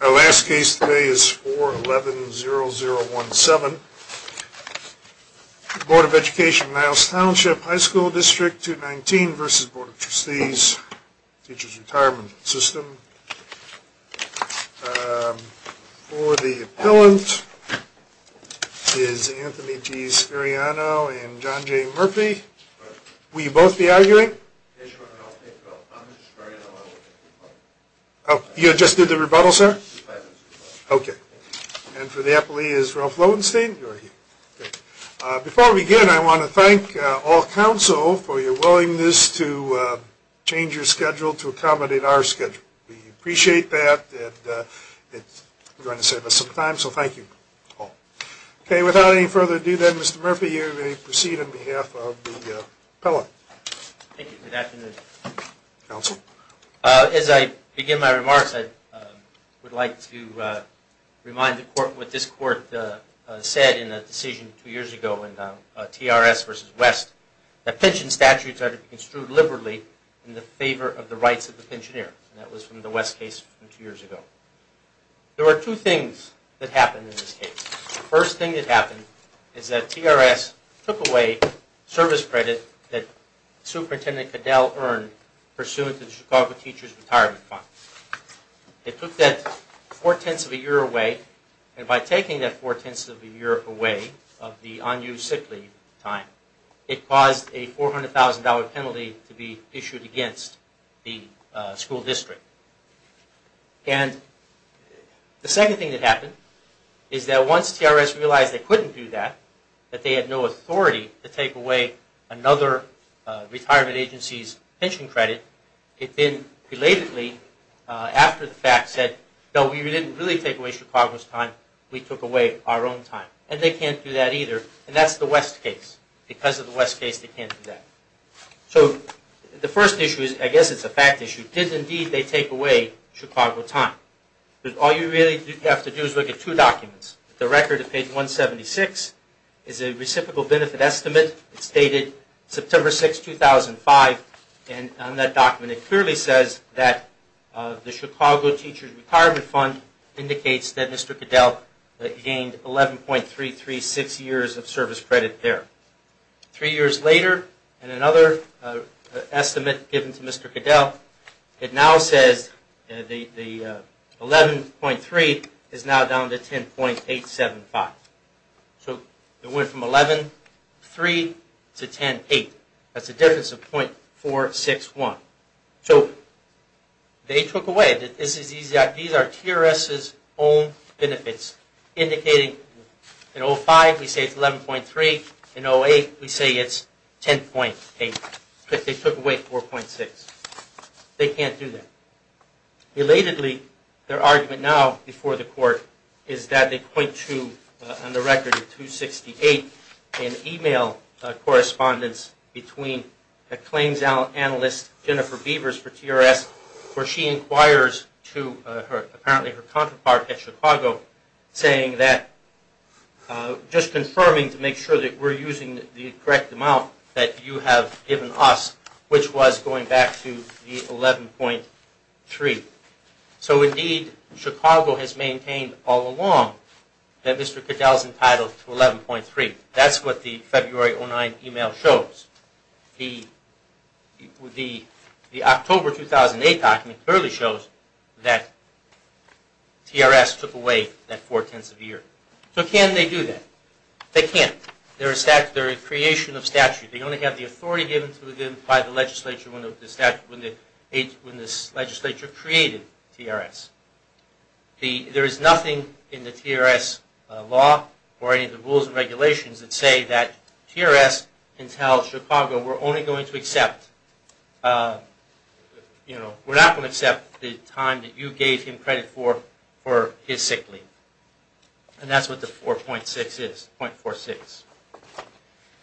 Our last case today is 4-11-0-0-1-7 Board of Education of Niles Township High School District 219 v. Board of Trustees Teachers' Retirement System For the appellant is Anthony G. Scariano and John J. Murphy You just did the rebuttal, sir? Okay. And for the appellee is Ralph Lowenstein. Before we begin, I want to thank all counsel for your willingness to change your schedule to accommodate our schedule. We appreciate that and it's going to save us some time, so thank you all. Okay, without any further ado then, Mr. Murphy, you may proceed on behalf of the appellant. Thank you. Good afternoon. Counsel? As I begin my remarks, I would like to remind the court what this court said in a decision two years ago in TRS v. West, that pension statutes are to be construed liberally in the favor of the rights of the pensioner. That was from the West case from two years ago. There were two things that happened in this case. The first thing that happened is that TRS took away service credit that Superintendent Caddell earned pursuant to the Chicago Teachers' Retirement Fund. It took that four-tenths of a year away, and by taking that four-tenths of a year away of the unused sick leave time, it caused a $400,000 penalty to be issued against the school district. And the second thing that happened is that once TRS realized they couldn't do that, that they had no authority to take away another retirement agency's pension credit, it then belatedly, after the fact, said, no, we didn't really take away Chicago's time, we took away our own time. And they can't do that either, and that's the West case. Because of the West case, they can't do that. So the first issue is, I guess it's a fact issue, did indeed they take away Chicago time? All you really have to do is look at two documents. The record at page 176 is a reciprocal benefit estimate. It's dated September 6, 2005, and on that document it clearly says that the Chicago Teachers' Retirement Fund indicates that Mr. Caddell gained 11.336 years of service credit there. Three years later, in another estimate given to Mr. Caddell, it now says 11.3 is now down to 10.875. So it went from 11.3 to 10.8. That's a difference of .461. So they took away, these are TRS's own benefits, indicating in 05 we say it's 11.3, in 08 we say it's 10.8. They took away 4.6. They can't do that. Relatedly, their argument now before the court is that they point to, on the record, in 268, an email correspondence between a claims analyst, Jennifer Beavers for TRS, where she inquires to her, apparently her counterpart at Chicago, saying that, just confirming to make sure that we're using the correct amount that you have given us, which was going back to the 11.3. So indeed, Chicago has maintained all along that Mr. Caddell's entitled to 11.3. That's what the February 09 email shows. The October 2008 document clearly shows that TRS took away that four-tenths of a year. So can they do that? They can't. They're a creation of statute. They only have the authority given to them by the legislature when the legislature created TRS. There is nothing in the TRS law or any of the rules and regulations that say that TRS can tell Chicago we're only going to accept, we're not going to accept the time that you gave him credit for his sick leave. And that's what the 4.46 is.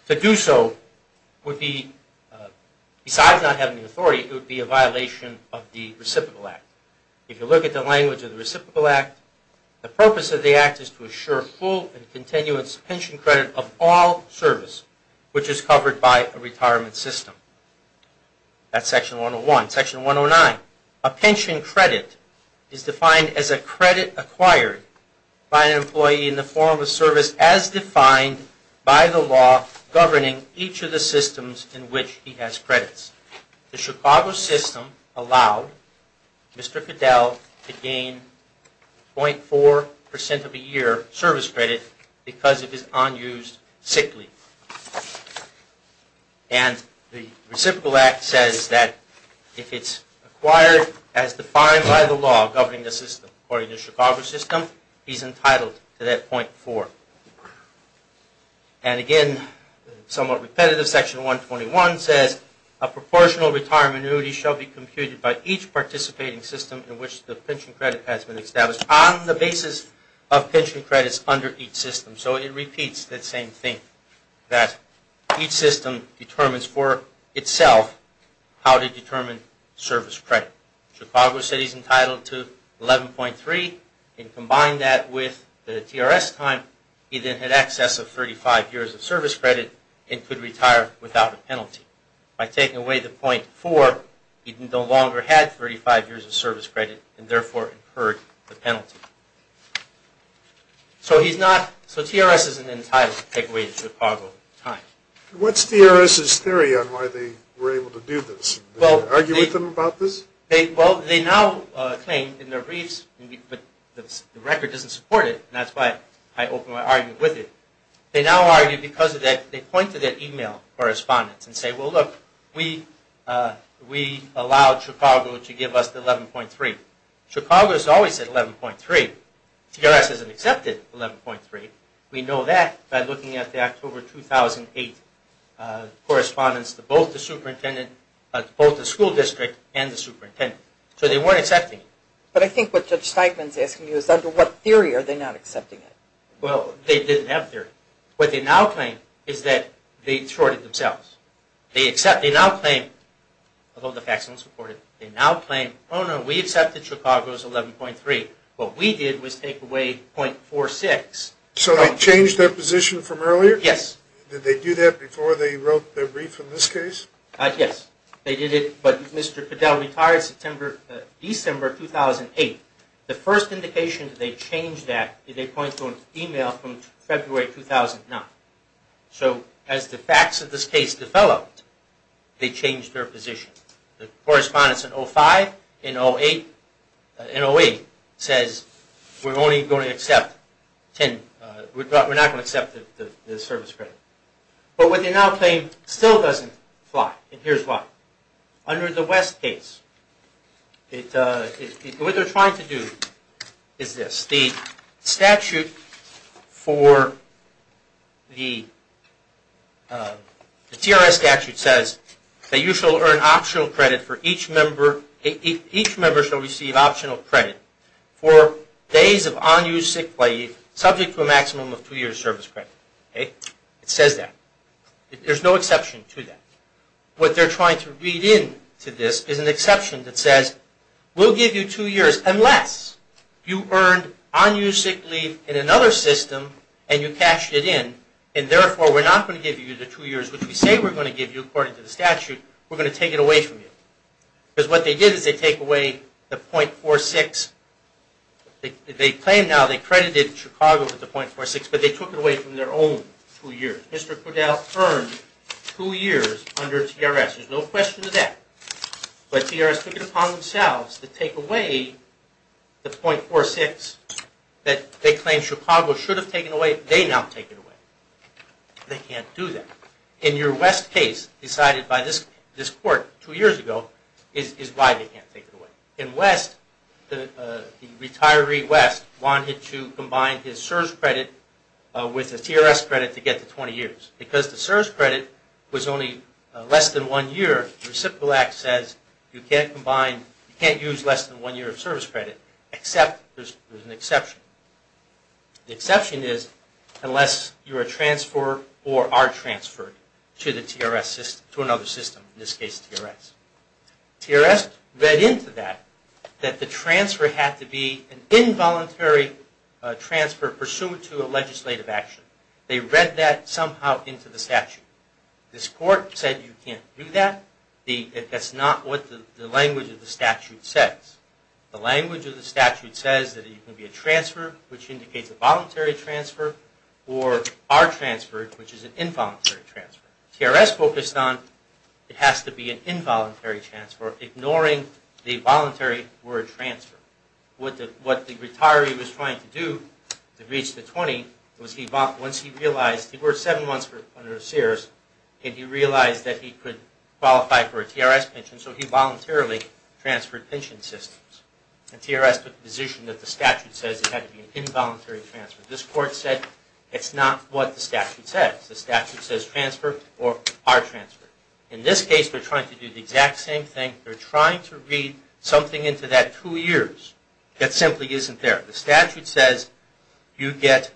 To do so would be, besides not having the authority, it would be a violation of the Reciprocal Act. If you look at the language of the Reciprocal Act, the purpose of the act is to assure full and continuous pension credit of all service, which is covered by a retirement system. That's Section 101. Section 109, a pension credit is defined as a credit acquired by an employee in the form of service as defined by the law governing each of the systems in which he has credits. The Chicago system allowed Mr. Fidel to gain 0.4% of a year service credit because of his unused sick leave. And the Reciprocal Act says that if it's acquired as defined by the law governing the system, according to the Chicago system, he's entitled to that 0.4. And again, somewhat repetitive, Section 121 says, a proportional retirement annuity shall be computed by each participating system in which the pension credit has been established on the basis of pension credits under each system. So it repeats that same thing. That each system determines for itself how to determine service credit. Chicago said he's entitled to 11.3, and combine that with the TRS time, he then had excess of 35 years of service credit and could retire without a penalty. By taking away the 0.4, he no longer had 35 years of service credit and therefore incurred the penalty. So TRS isn't entitled to take away the Chicago time. What's TRS's theory on why they were able to do this? Did you argue with them about this? Well, they now claim in their briefs, but the record doesn't support it, and that's why I opened my argument with it. They now argue because of that. They point to their email correspondence and say, well, look, we allowed Chicago to give us the 11.3. Chicago has always said 11.3. TRS hasn't accepted 11.3. We know that by looking at the October 2008 correspondence to both the superintendent, both the school district and the superintendent. So they weren't accepting it. But I think what Judge Steigman's asking you is under what theory are they not accepting it? Well, they didn't have a theory. What they now claim is that they shorted themselves. They now claim, although the facts don't support it, they now claim, oh, no, we accepted Chicago's 11.3. What we did was take away 0.46. So they changed their position from earlier? Yes. Did they do that before they wrote their brief in this case? Yes. They did it, but Mr. Fidel retired December 2008. The first indication that they changed that is they point to an email from February 2009. So as the facts of this case developed, they changed their position. The correspondence in 05 and 08 says we're only going to accept 10. We're not going to accept the service credit. But what they now claim still doesn't apply, and here's why. Under the West case, what they're trying to do is this. The statute for the TRS statute says that you shall earn optional credit for each member. Each member shall receive optional credit for days of unused sick leave, subject to a maximum of two years service credit. It says that. There's no exception to that. What they're trying to read into this is an exception that says we'll give you two years unless you earned unused sick leave in another system and you cashed it in, and therefore we're not going to give you the two years which we say we're going to give you, according to the statute, we're going to take it away from you. Because what they did is they take away the .46. They claim now they credited Chicago with the .46, but they took it away from their own two years. Mr. Fidel earned two years under TRS. There's no question of that. But TRS took it upon themselves to take away the .46 that they claim Chicago should have taken away. They now take it away. They can't do that. In your West case decided by this court two years ago is why they can't take it away. In West, the retiree West wanted to combine his CSRS credit with a TRS credit to get to 20 years. Because the CSRS credit was only less than one year, the Reciprocal Act says you can't combine, you can't use less than one year of service credit except there's an exception. The exception is unless you are transferred or are transferred to another system, in this case TRS. TRS read into that that the transfer had to be an involuntary transfer pursuant to a legislative action. They read that somehow into the statute. This court said you can't do that. That's not what the language of the statute says. The language of the statute says that it can be a transfer, which indicates a voluntary transfer, or are transferred, which is an involuntary transfer. TRS focused on it has to be an involuntary transfer, ignoring the voluntary word transfer. What the retiree was trying to do to reach the 20 was once he realized he worked seven months under CSRS and he realized that he could qualify for a TRS pension, so he voluntarily transferred pension systems. TRS took the position that the statute says it had to be an involuntary transfer. This court said it's not what the statute says. The statute says transfer or are transferred. In this case they're trying to do the exact same thing. They're trying to read something into that two years that simply isn't there. The statute says you can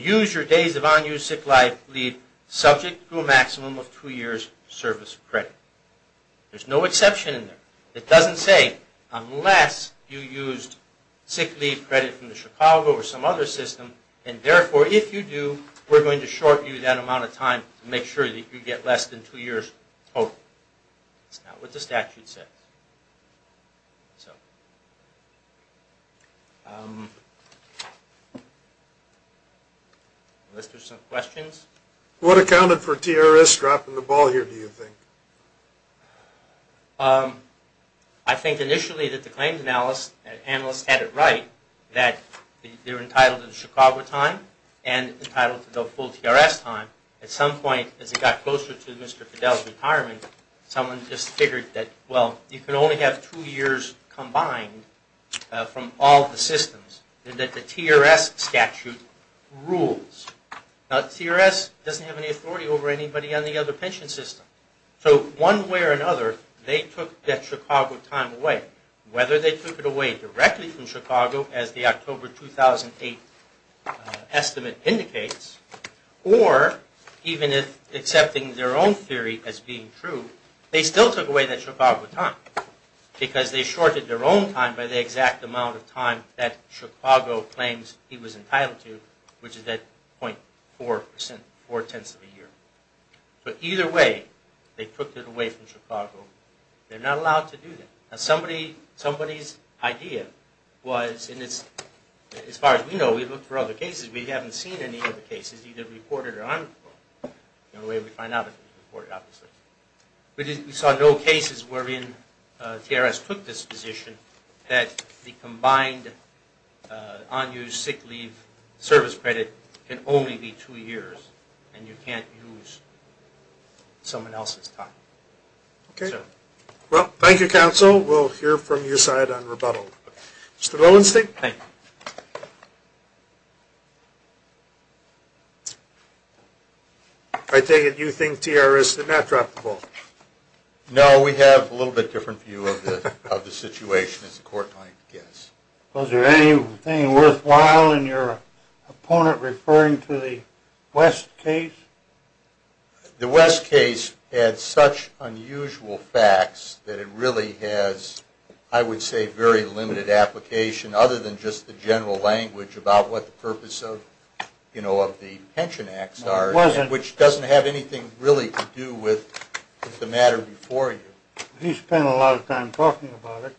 use your days of unused sick leave subject to a maximum of two years service credit. There's no exception in there. It doesn't say unless you used sick leave credit from the Chicago or some other system, and therefore if you do, we're going to short you that amount of time to make sure that you get less than two years total. It's not what the statute says. Let's do some questions. What accounted for TRS dropping the ball here do you think? I think initially that the claims analyst had it right that they're entitled to the Chicago time and entitled to the full TRS time. At some point as it got closer to Mr. Fidel's retirement, someone just figured that, well, you can only have two years combined from all the systems, and that the TRS statute rules. Now, TRS doesn't have any authority over anybody on the other pension system. So one way or another, they took that Chicago time away. Whether they took it away directly from Chicago as the October 2008 estimate indicates, or even if accepting their own theory as being true, they still took away that Chicago time because they shorted their own time by the exact amount of time that Chicago claims he was entitled to, which is that 0.4 percent, four-tenths of a year. But either way, they took it away from Chicago. They're not allowed to do that. Now, somebody's idea was, and as far as we know, we've looked for other cases. We haven't seen any of the cases, either reported or unreported. The only way we find out is if it's reported, obviously. We saw no cases wherein TRS took this position, that the combined unused sick leave service credit can only be two years, and you can't use someone else's time. Okay. Well, thank you, counsel. We'll hear from your side on rebuttal. Mr. Lowenstein? Thank you. I take it you think TRS did not drop the ball? No. We have a little bit different view of the situation, as the court might guess. Was there anything worthwhile in your opponent referring to the West case? The West case had such unusual facts that it really has, I would say, very limited application other than just the general language about what the purpose of the pension acts are, which doesn't have anything really to do with the matter before you. You spent a lot of time talking about it.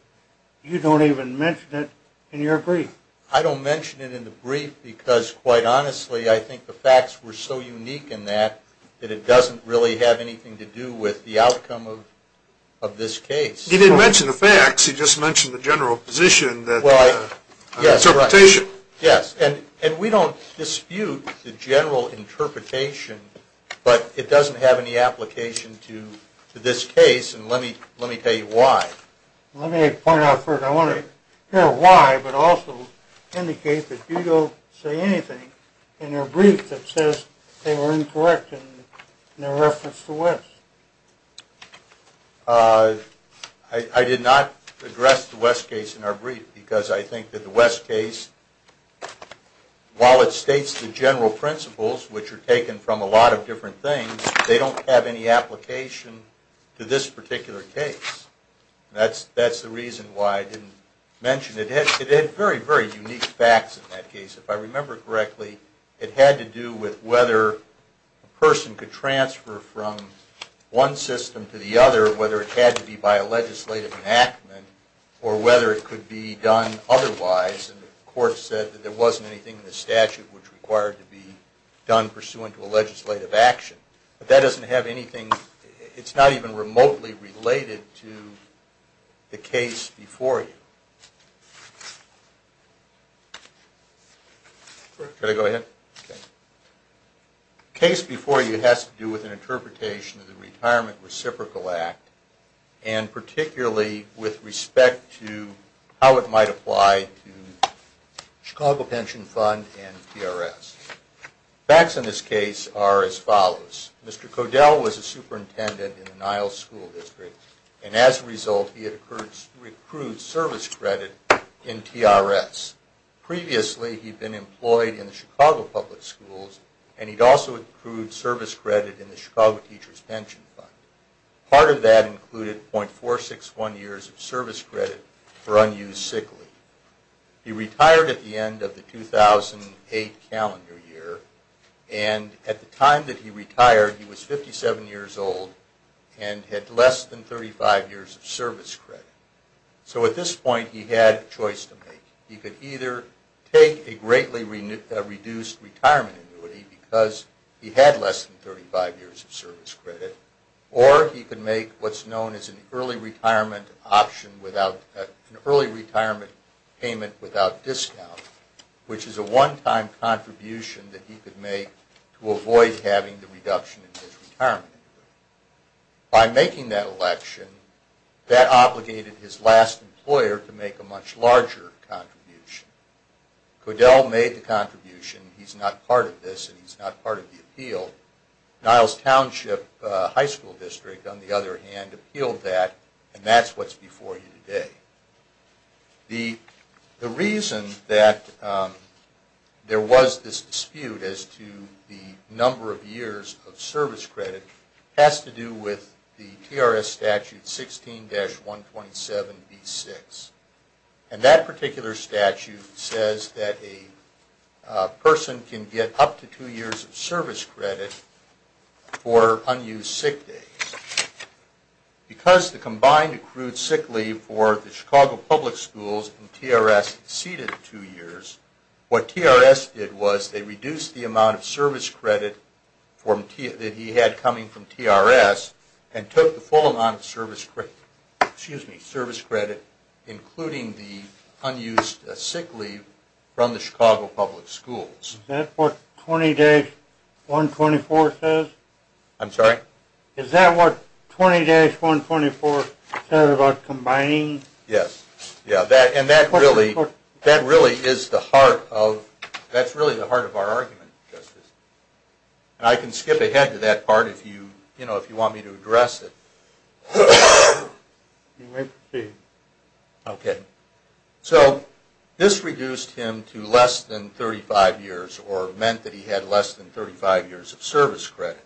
You don't even mention it in your brief. I don't mention it in the brief because, quite honestly, I think the facts were so unique in that that it doesn't really have anything to do with the outcome of this case. He didn't mention the facts. I guess he just mentioned the general position, the interpretation. Yes. And we don't dispute the general interpretation, but it doesn't have any application to this case, and let me tell you why. Let me point out first, I want to hear why, but also indicate that you don't say anything in your brief that says they were incorrect in their reference to West. I did not address the West case in our brief because I think that the West case, while it states the general principles, which are taken from a lot of different things, they don't have any application to this particular case. That's the reason why I didn't mention it. It had very, very unique facts in that case. If I remember correctly, it had to do with whether a person could transfer from one system to the other, whether it had to be by a legislative enactment or whether it could be done otherwise, and the court said that there wasn't anything in the statute which required to be done pursuant to a legislative action. But that doesn't have anything. It's not even remotely related to the case before you. Case before you has to do with an interpretation of the Retirement Reciprocal Act and particularly with respect to how it might apply to the Chicago Pension Fund and TRS. Facts in this case are as follows. Mr. Codell was a superintendent in the Niles School District and as a result he had recruited service credit from the Niles School District in TRS. Previously he'd been employed in the Chicago Public Schools and he'd also accrued service credit in the Chicago Teachers' Pension Fund. Part of that included .461 years of service credit for unused sick leave. He retired at the end of the 2008 calendar year and at the time that he retired he was 57 years old and had less than 35 years of service credit. So at this point he had a choice to make. He could either take a greatly reduced retirement annuity because he had less than 35 years of service credit or he could make what's known as an early retirement payment without discount which is a one-time contribution that he could make to avoid having the reduction in his retirement. By making that election that obligated his last employer to make a much larger contribution. Codell made the contribution. He's not part of this and he's not part of the appeal. Niles Township High School District on the other hand appealed that and that's what's before you today. The reason that there was this dispute as to the number of years of service credit has to do with the TRS statute 16-127B6. And that particular statute says that a person can get up to two years of service credit for unused sick days. Because the combined accrued sick leave for the Chicago Public Schools and TRS exceeded two years, what TRS did was they reduced the amount of service credit that he had coming from TRS and took the full amount of service credit including the unused sick leave from the Chicago Public Schools. Is that what 20-124 says? I'm sorry? Is that what 20-124 says about combining? Yes. And that really is the heart of our argument. I can skip ahead to that part if you want me to address it. You may proceed. Okay. So this reduced him to less than 35 years or meant that he had less than 35 years of service credit.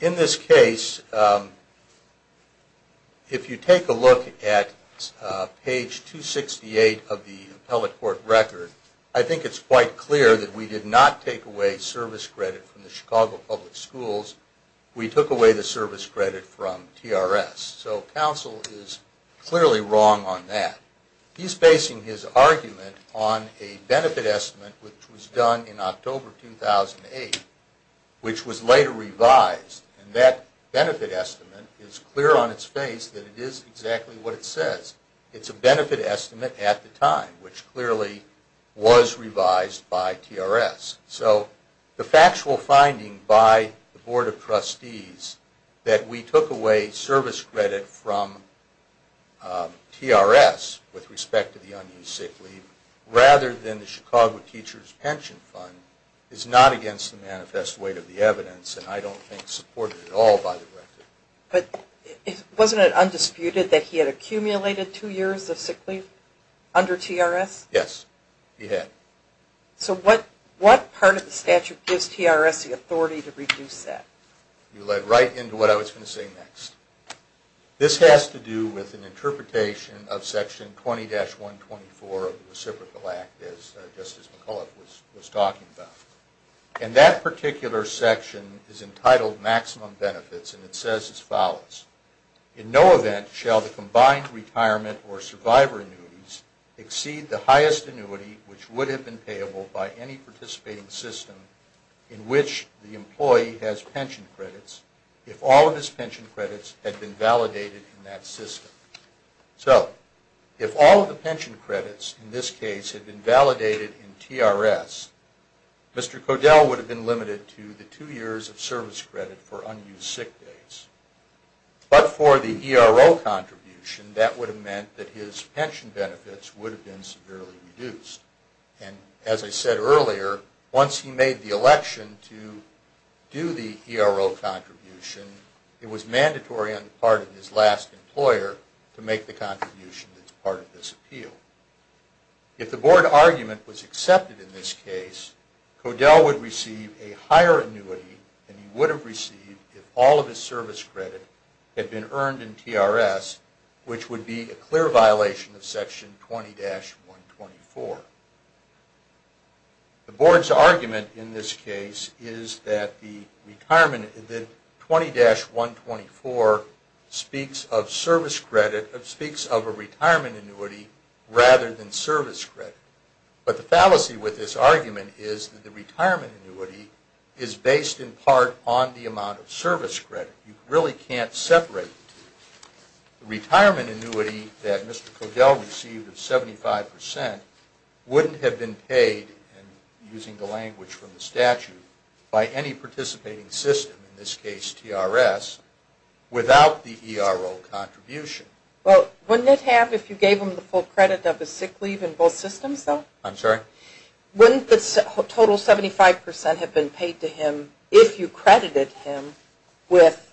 In this case, if you take a look at page 268 of the appellate court record, I think it's quite clear that we did not take away service credit from the Chicago Public Schools. We took away the service credit from TRS. So counsel is clearly wrong on that. He's basing his argument on a benefit estimate which was done in October 2008 which was later revised. And that benefit estimate is clear on its face that it is exactly what it says. It's a benefit estimate at the time which clearly was revised by TRS. So the factual finding by the Board of Trustees that we took away service credit from TRS with respect to the unused sick leave rather than the Chicago Teachers Pension Fund is not against the manifest weight of the evidence and I don't think supported at all by the record. But wasn't it undisputed that he had accumulated two years of sick leave under TRS? Yes, he had. So what part of the statute gives TRS the authority to reduce that? You led right into what I was going to say next. This has to do with an interpretation of Section 20-124 of the Reciprocal Act as Justice McCullough was talking about. And that particular section is entitled Maximum Benefits and it says as follows. In no event shall the combined retirement or survivor annuities exceed the highest annuity which would have been payable by any participating system in which the employee has pension credits if all of his pension credits had been validated in that system. So, if all of the pension credits in this case had been validated in TRS, Mr. Codell would have been limited to the two years of service credit for unused sick days. But for the ERO contribution, that would have meant that his pension benefits would have been severely reduced. And as I said earlier, once he made the election to do the ERO contribution, it was mandatory on the part of his last employer to make the contribution that's part of this appeal. If the board argument was accepted in this case, Codell would receive a higher annuity than he would have received if all of his service credit had been earned in TRS, which would be a clear violation of Section 20-124. The board's argument in this case is that 20-124 speaks of a retirement annuity rather than service credit. But the fallacy with this argument is that the retirement annuity is based in part on the amount of service credit. You really can't separate the two. The retirement annuity that Mr. Codell received of 75 percent wouldn't have been paid, using the language from the statute, by any participating system, in this case TRS, without the ERO contribution. Well, wouldn't it have if you gave him the full credit of a sick leave in both systems, though? I'm sorry? Wouldn't the total 75 percent have been paid to him if you credited him with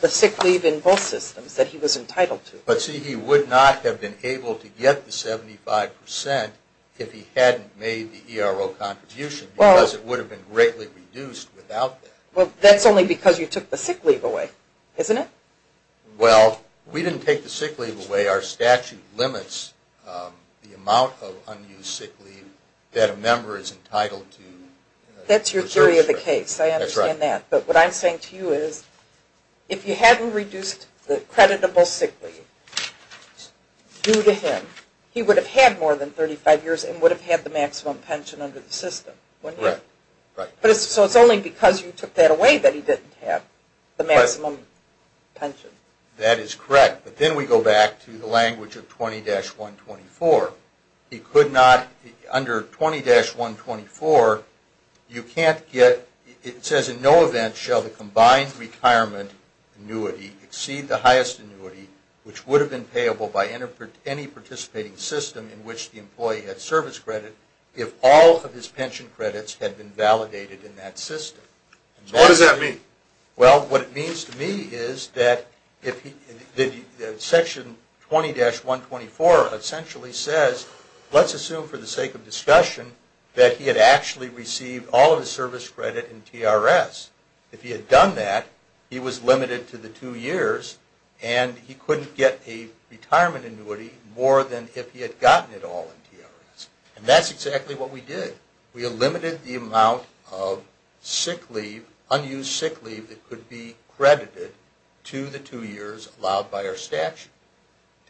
the sick leave in both systems that he was entitled to? But, see, he would not have been able to get the 75 percent if he hadn't made the ERO contribution, because it would have been greatly reduced without that. Well, that's only because you took the sick leave away, isn't it? Well, we didn't take the sick leave away. Our statute limits the amount of unused sick leave that a member is entitled to. That's your theory of the case. That's right. But what I'm saying to you is, if you hadn't reduced the creditable sick leave due to him, he would have had more than 35 years and would have had the maximum pension under the system, wouldn't he? Correct. So it's only because you took that away that he didn't have the maximum pension. That is correct. But then we go back to the language of 20-124. He could not, under 20-124, you can't get, it says, in no event shall the combined retirement annuity exceed the highest annuity, which would have been payable by any participating system in which the employee had service credit, if all of his pension credits had been validated in that system. So what does that mean? Well, what it means to me is that Section 20-124 essentially says, let's assume for the sake of discussion that he had actually received all of his service credit in TRS. If he had done that, he was limited to the two years and he couldn't get a retirement annuity more than if he had gotten it all in TRS. And that's exactly what we did. We eliminated the amount of sick leave, unused sick leave, that could be credited to the two years allowed by our statute.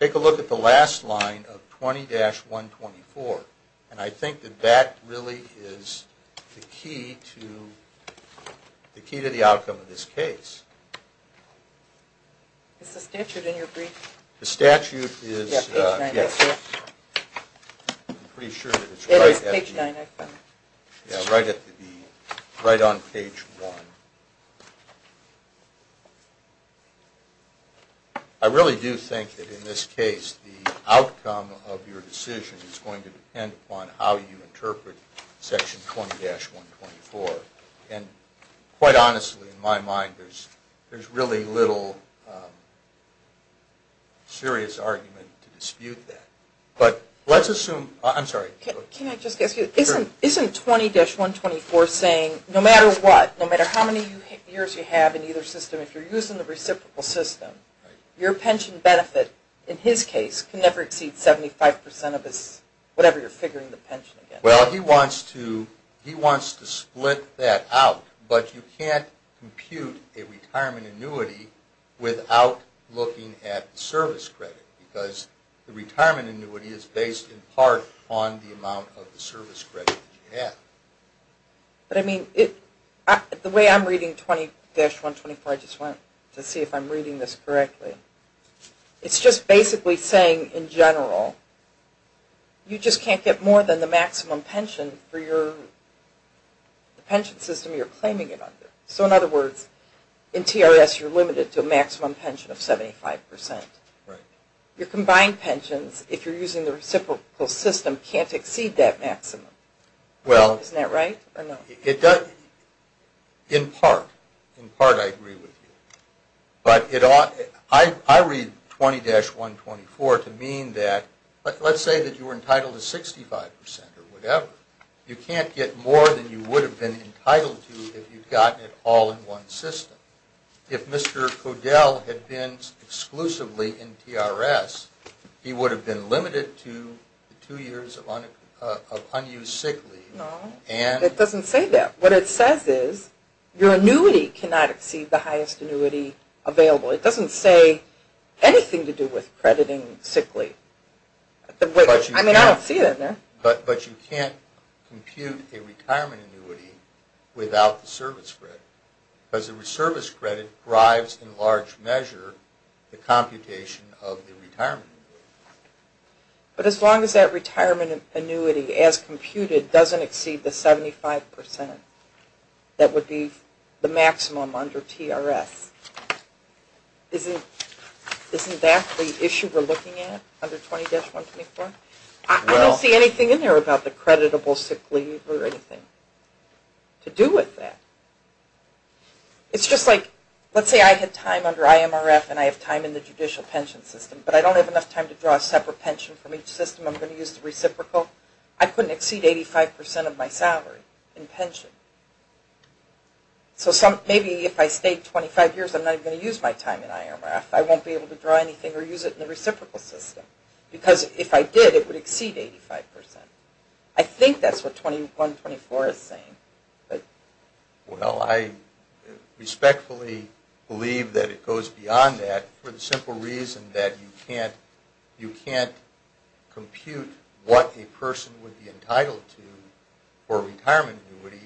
Take a look at the last line of 20-124, and I think that that really is the key to the outcome of this case. Is the statute in your brief? The statute is, yes. I'm pretty sure that it's right on page 1. I really do think that in this case the outcome of your decision is going to depend upon how you interpret Section 20-124. And quite honestly, in my mind, there's really little serious argument to dispute that. But let's assume, I'm sorry. Can I just ask you, isn't 20-124 saying no matter what, no matter how many years you have in either system, if you're using the reciprocal system, your pension benefit in his case can never exceed 75% of his, whatever you're figuring the pension again. Well, he wants to split that out, but you can't compute a retirement annuity without looking at the service credit, because the retirement annuity is based in part on the amount of the service credit that you have. But I mean, the way I'm reading 20-124, I just want to see if I'm reading this correctly. It's just basically saying, in general, you just can't get more than the maximum pension for your pension system you're claiming it under. So in other words, in TRS, you're limited to a maximum pension of 75%. Right. Your combined pensions, if you're using the reciprocal system, can't exceed that maximum. Well. Isn't that right, or no? It does, in part. In part I agree with you. But I read 20-124 to mean that, let's say that you were entitled to 65% or whatever. You can't get more than you would have been entitled to if you'd gotten it all in one system. If Mr. Fodell had been exclusively in TRS, he would have been limited to two years of unused sick leave. No, it doesn't say that. What it says is your annuity cannot exceed the highest annuity available. It doesn't say anything to do with crediting sick leave. I mean, I don't see that there. But you can't compute a retirement annuity without the service credit, because the service credit drives, in large measure, the computation of the retirement annuity. But as long as that retirement annuity, as computed, doesn't exceed the 75% that would be the maximum under TRS, isn't that the issue we're looking at under 20-124? I don't see anything in there about the creditable sick leave or anything to do with that. It's just like, let's say I had time under IMRF and I have time in the judicial pension system, but I don't have enough time to draw a separate pension from each system. I'm going to use the reciprocal. I couldn't exceed 85% of my salary in pension. So maybe if I stayed 25 years, I'm not even going to use my time in IMRF. I won't be able to draw anything or use it in the reciprocal system, because if I did, it would exceed 85%. I think that's what 20-124 is saying. Well, I respectfully believe that it goes beyond that for the simple reason that you can't compute what a person would be entitled to for retirement annuity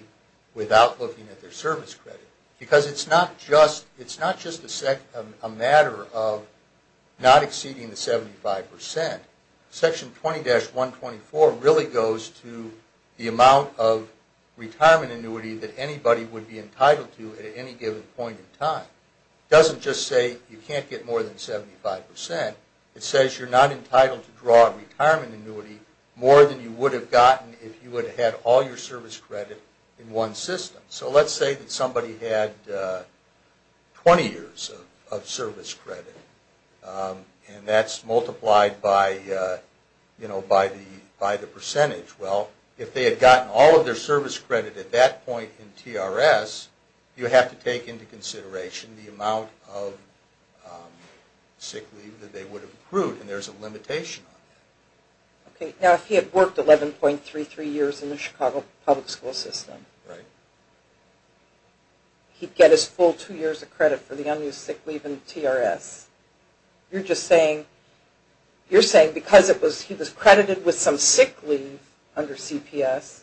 without looking at their service credit. Because it's not just a matter of not exceeding the 75%. Section 20-124 really goes to the amount of retirement annuity that anybody would be entitled to at any given point in time. It doesn't just say you can't get more than 75%. It says you're not entitled to draw a retirement annuity more than you would have gotten if you had had all your service credit in one system. So let's say that somebody had 20 years of service credit, and that's multiplied by the percentage. Well, if they had gotten all of their service credit at that point in TRS, you have to take into consideration the amount of sick leave that they would have accrued, and there's a limitation on that. Now, if he had worked 11.33 years in the Chicago public school system, he'd get his full two years of credit for the unused sick leave in TRS. You're saying because he was credited with some sick leave under CPS,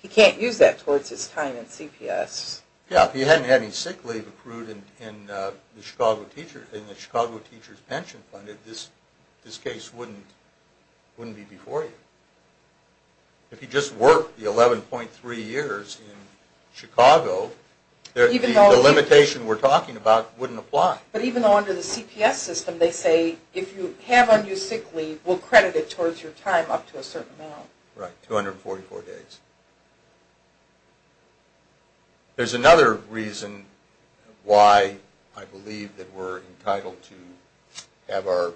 he can't use that towards his time in CPS. Yeah, if he hadn't had any sick leave accrued in the Chicago Teachers' Pension Fund, this case wouldn't be before you. If he just worked the 11.3 years in Chicago, the limitation we're talking about wouldn't apply. But even under the CPS system, they say if you have unused sick leave, we'll credit it towards your time up to a certain amount. Right, 244 days. There's another reason why I believe that we're entitled to have the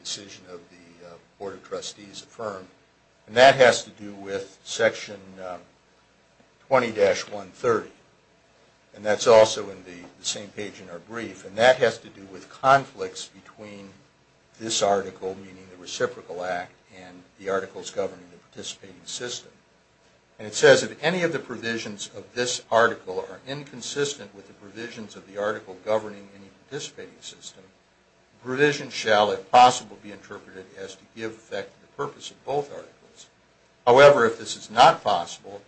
decision of the Board of Trustees affirmed, and that has to do with Section 20-130. And that's also in the same page in our brief, and that has to do with conflicts between this article, meaning the Reciprocal Act, and the articles governing the participating system. And it says if any of the provisions of this article are inconsistent with the provisions of the article governing any participating system, the provision shall, if possible, be interpreted as to give effect to the purpose of both articles. However, if this is not possible,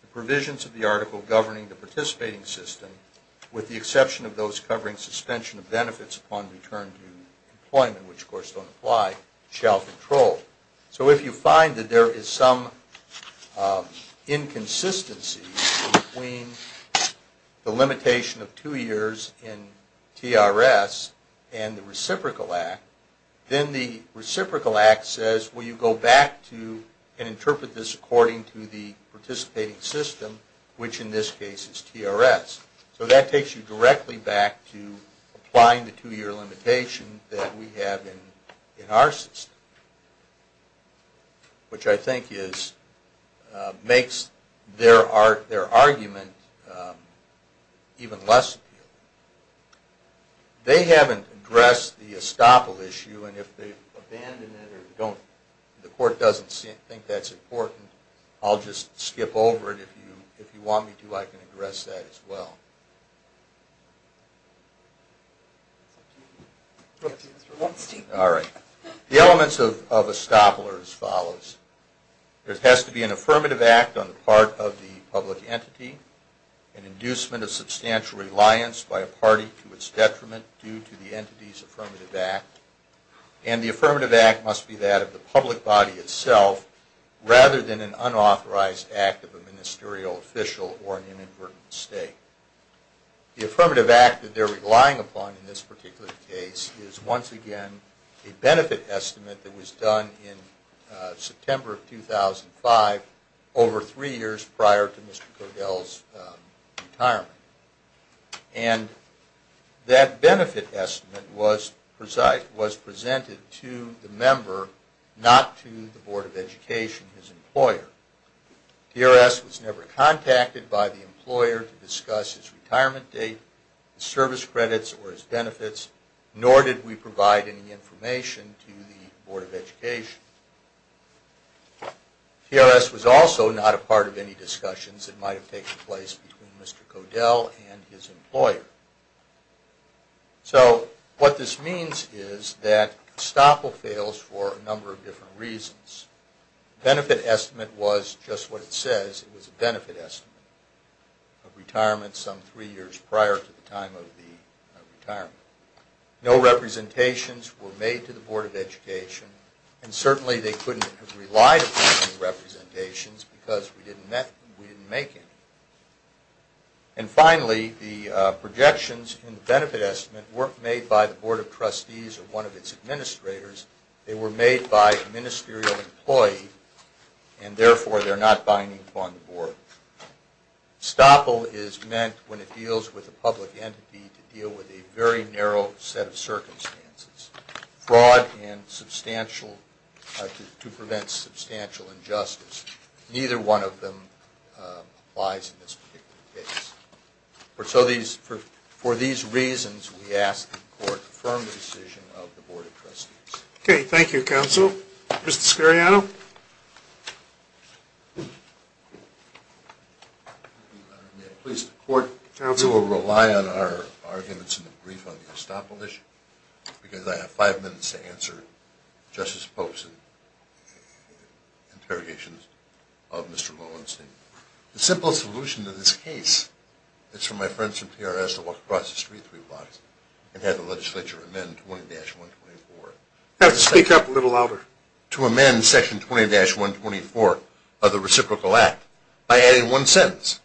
the provisions of the article governing the participating system, with the exception of those covering suspension of benefits upon return to employment, which of course don't apply, shall control. So if you find that there is some inconsistency between the limitation of two years in TRS and the Reciprocal Act, then the Reciprocal Act says, will you go back to and interpret this according to the participating system, which in this case is TRS. So that takes you directly back to applying the two-year limitation that we have in our system, which I think makes their argument even less appealing. They haven't addressed the estoppel issue, and if they've abandoned it or the court doesn't think that's important, I'll just skip over it. If you want me to, I can address that as well. All right. The elements of estoppel are as follows. There has to be an affirmative act on the part of the public entity, an inducement of substantial reliance by a party to its detriment due to the entity's affirmative act, and the affirmative act must be that of the public body itself, rather than an unauthorized act of a ministerial official or an inadvertent mistake. The affirmative act that they're relying upon in this particular case is once again a benefit estimate that was done in September of 2005 over three years prior to Mr. Kodell's retirement. And that benefit estimate was presented to the member, not to the Board of Education, his employer. TRS was never contacted by the employer to discuss his retirement date, his service credits, or his benefits, nor did we provide any information to the Board of Education. TRS was also not a part of any discussions that might have taken place between Mr. Kodell and his employer. So what this means is that estoppel fails for a number of different reasons. The benefit estimate was just what it says, it was a benefit estimate of retirement some three years prior to the time of the retirement. No representations were made to the Board of Education, and certainly they couldn't have relied upon any representations because we didn't make any. And finally, the projections in the benefit estimate weren't made by the Board of Trustees or one of its administrators, they were made by a ministerial employee, and therefore they're not binding upon the Board. Estoppel is meant when it deals with a public entity to deal with a very narrow set of circumstances. Fraud to prevent substantial injustice, neither one of them applies in this particular case. For these reasons, we ask the Court to affirm the decision of the Board of Trustees. Okay, thank you, Counsel. Mr. Scariano? Please, the Court will rely on our arguments in the brief on the estoppel issue because I have five minutes to answer Justice Pope's interrogations of Mr. Lowenstein. The simplest solution to this case is for my friends from PRS to walk across the street three blocks and have the legislature amend I have to speak up a little louder to amend Section 20-124 of the Reciprocal Act by adding one sentence.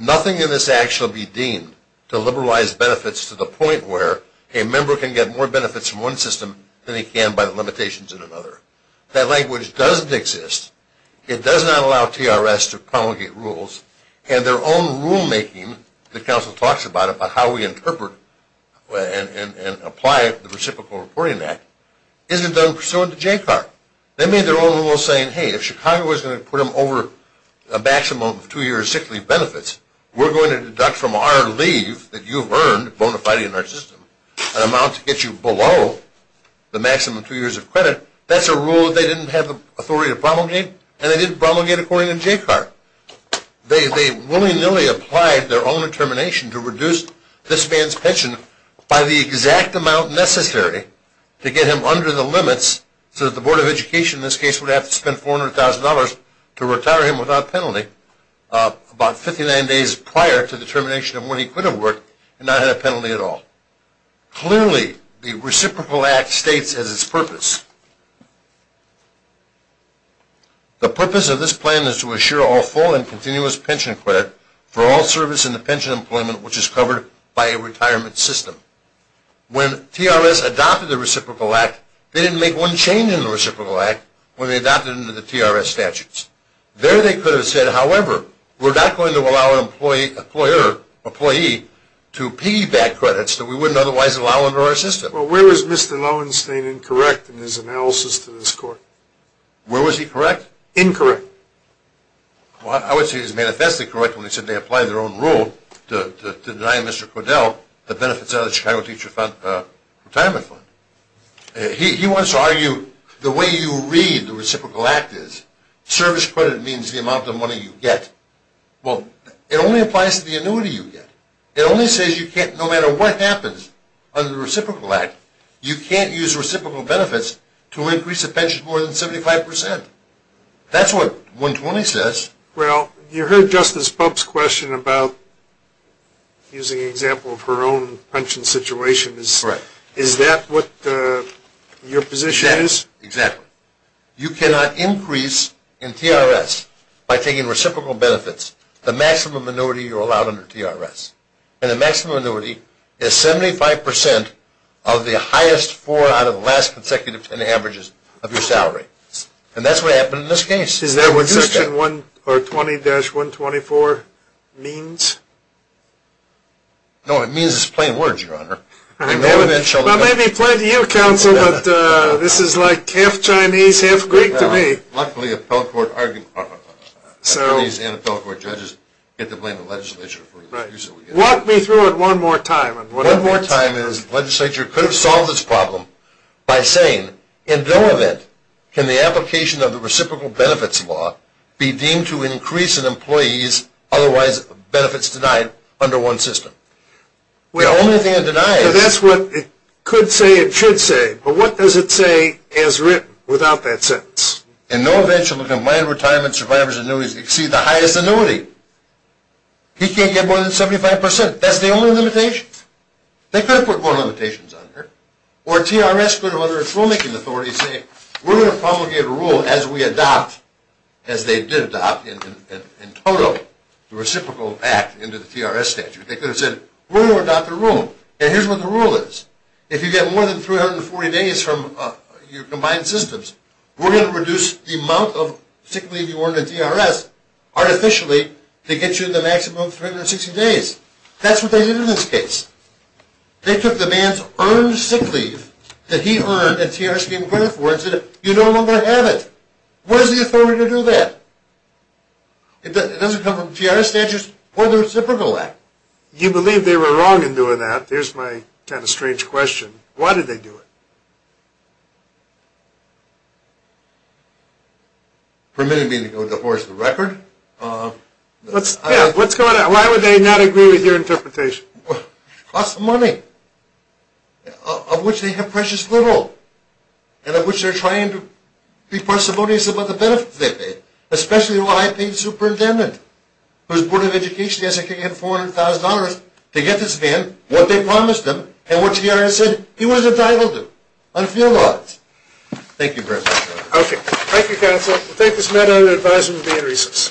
Nothing in this act shall be deemed to liberalize benefits to the point where a member can get more benefits from one system than he can by the limitations in another. That language doesn't exist. It does not allow TRS to promulgate rules and their own rulemaking, the Counsel talks about it, about how we interpret and apply the Reciprocal Reporting Act, isn't done pursuant to JCAR. They made their own rule saying, hey, if Chicago was going to put them over a maximum of two years' sick leave benefits, we're going to deduct from our leave that you've earned, bona fide in our system, an amount to get you below the maximum two years of credit. That's a rule they didn't have the authority to promulgate, and they didn't promulgate according to JCAR. They willy-nilly applied their own determination to reduce this man's pension by the exact amount necessary to get him under the limits so that the Board of Education, in this case, would have to spend $400,000 to retire him without penalty about 59 days prior to the termination of when he could have worked and not had a penalty at all. Clearly, the Reciprocal Act states as its purpose, the purpose of this plan is to assure all full and continuous pension credit for all service in the pension employment which is covered by a retirement system. When TRS adopted the Reciprocal Act, they didn't make one change in the Reciprocal Act when they adopted it into the TRS statutes. There they could have said, however, we're not going to allow an employee to piggyback credits that we wouldn't otherwise allow under our system. Well, where is Mr. Lowenstein incorrect in his analysis to this Court? Where was he correct? Incorrect. Well, I would say he's manifestly correct when he said they applied their own rule to denying Mr. Cordell the benefits out of the Chicago Teacher Retirement Fund. He wants to argue the way you read the Reciprocal Act is service credit means the amount of money you get. Well, it only applies to the annuity you get. It only says you can't, no matter what happens under the Reciprocal Act, you can't use reciprocal benefits to increase the pension more than 75%. That's what 120 says. Well, you heard Justice Bump's question about using an example of her own pension situation. Is that what your position is? Exactly. You cannot increase in TRS by taking reciprocal benefits the maximum annuity you're allowed under TRS. And the maximum annuity is 75% of the highest four out of the last consecutive ten averages of your salary. And that's what happened in this case. Is that what Section 120-124 means? No, it means it's plain words, Your Honor. I may be playing to you, Counsel, but this is like half Chinese, half Greek to me. Luckily, appellate court judges get to blame the legislature. Walk me through it one more time. One more time is the legislature could have solved this problem by saying in no event can the application of the reciprocal benefits law be deemed to increase an employee's otherwise benefits denied under one system. The only thing it denies... So that's what it could say, it should say, but what does it say as written without that sentence? In no event shall a combined retirement, survivor's annuities exceed the highest annuity. He can't get more than 75%. That's the only limitation. They could have put more limitations on her. Or TRS could have, under its rulemaking authority, said, we're going to promulgate a rule as we adopt, as they did adopt in total, the reciprocal act into the TRS statute. They could have said, we're going to adopt a rule, and here's what the rule is. If you get more than 340 days from your combined systems, we're going to reduce the amount of sick leave you earn in TRS artificially to get you the maximum of 360 days. That's what they did in this case. They took the man's earned sick leave that he earned at TRS being granted for, and said, you no longer have it. What is the authority to do that? It doesn't come from TRS statutes, or the reciprocal act. You believe they were wrong in doing that? There's my kind of strange question. Why did they do it? Permitting me to go divorce the record? Yeah, what's going on? Why would they not agree with your interpretation? It costs them money, of which they have precious little, and of which they're trying to be parsimonious about the benefits they pay, especially a high-paid superintendent whose Board of Education has to give him $400,000 to get this man what they promised him, and what TRS said he was entitled to, on field laws. Thank you very much. Thank you, counsel. We'll take this matter under advisement and be in recess.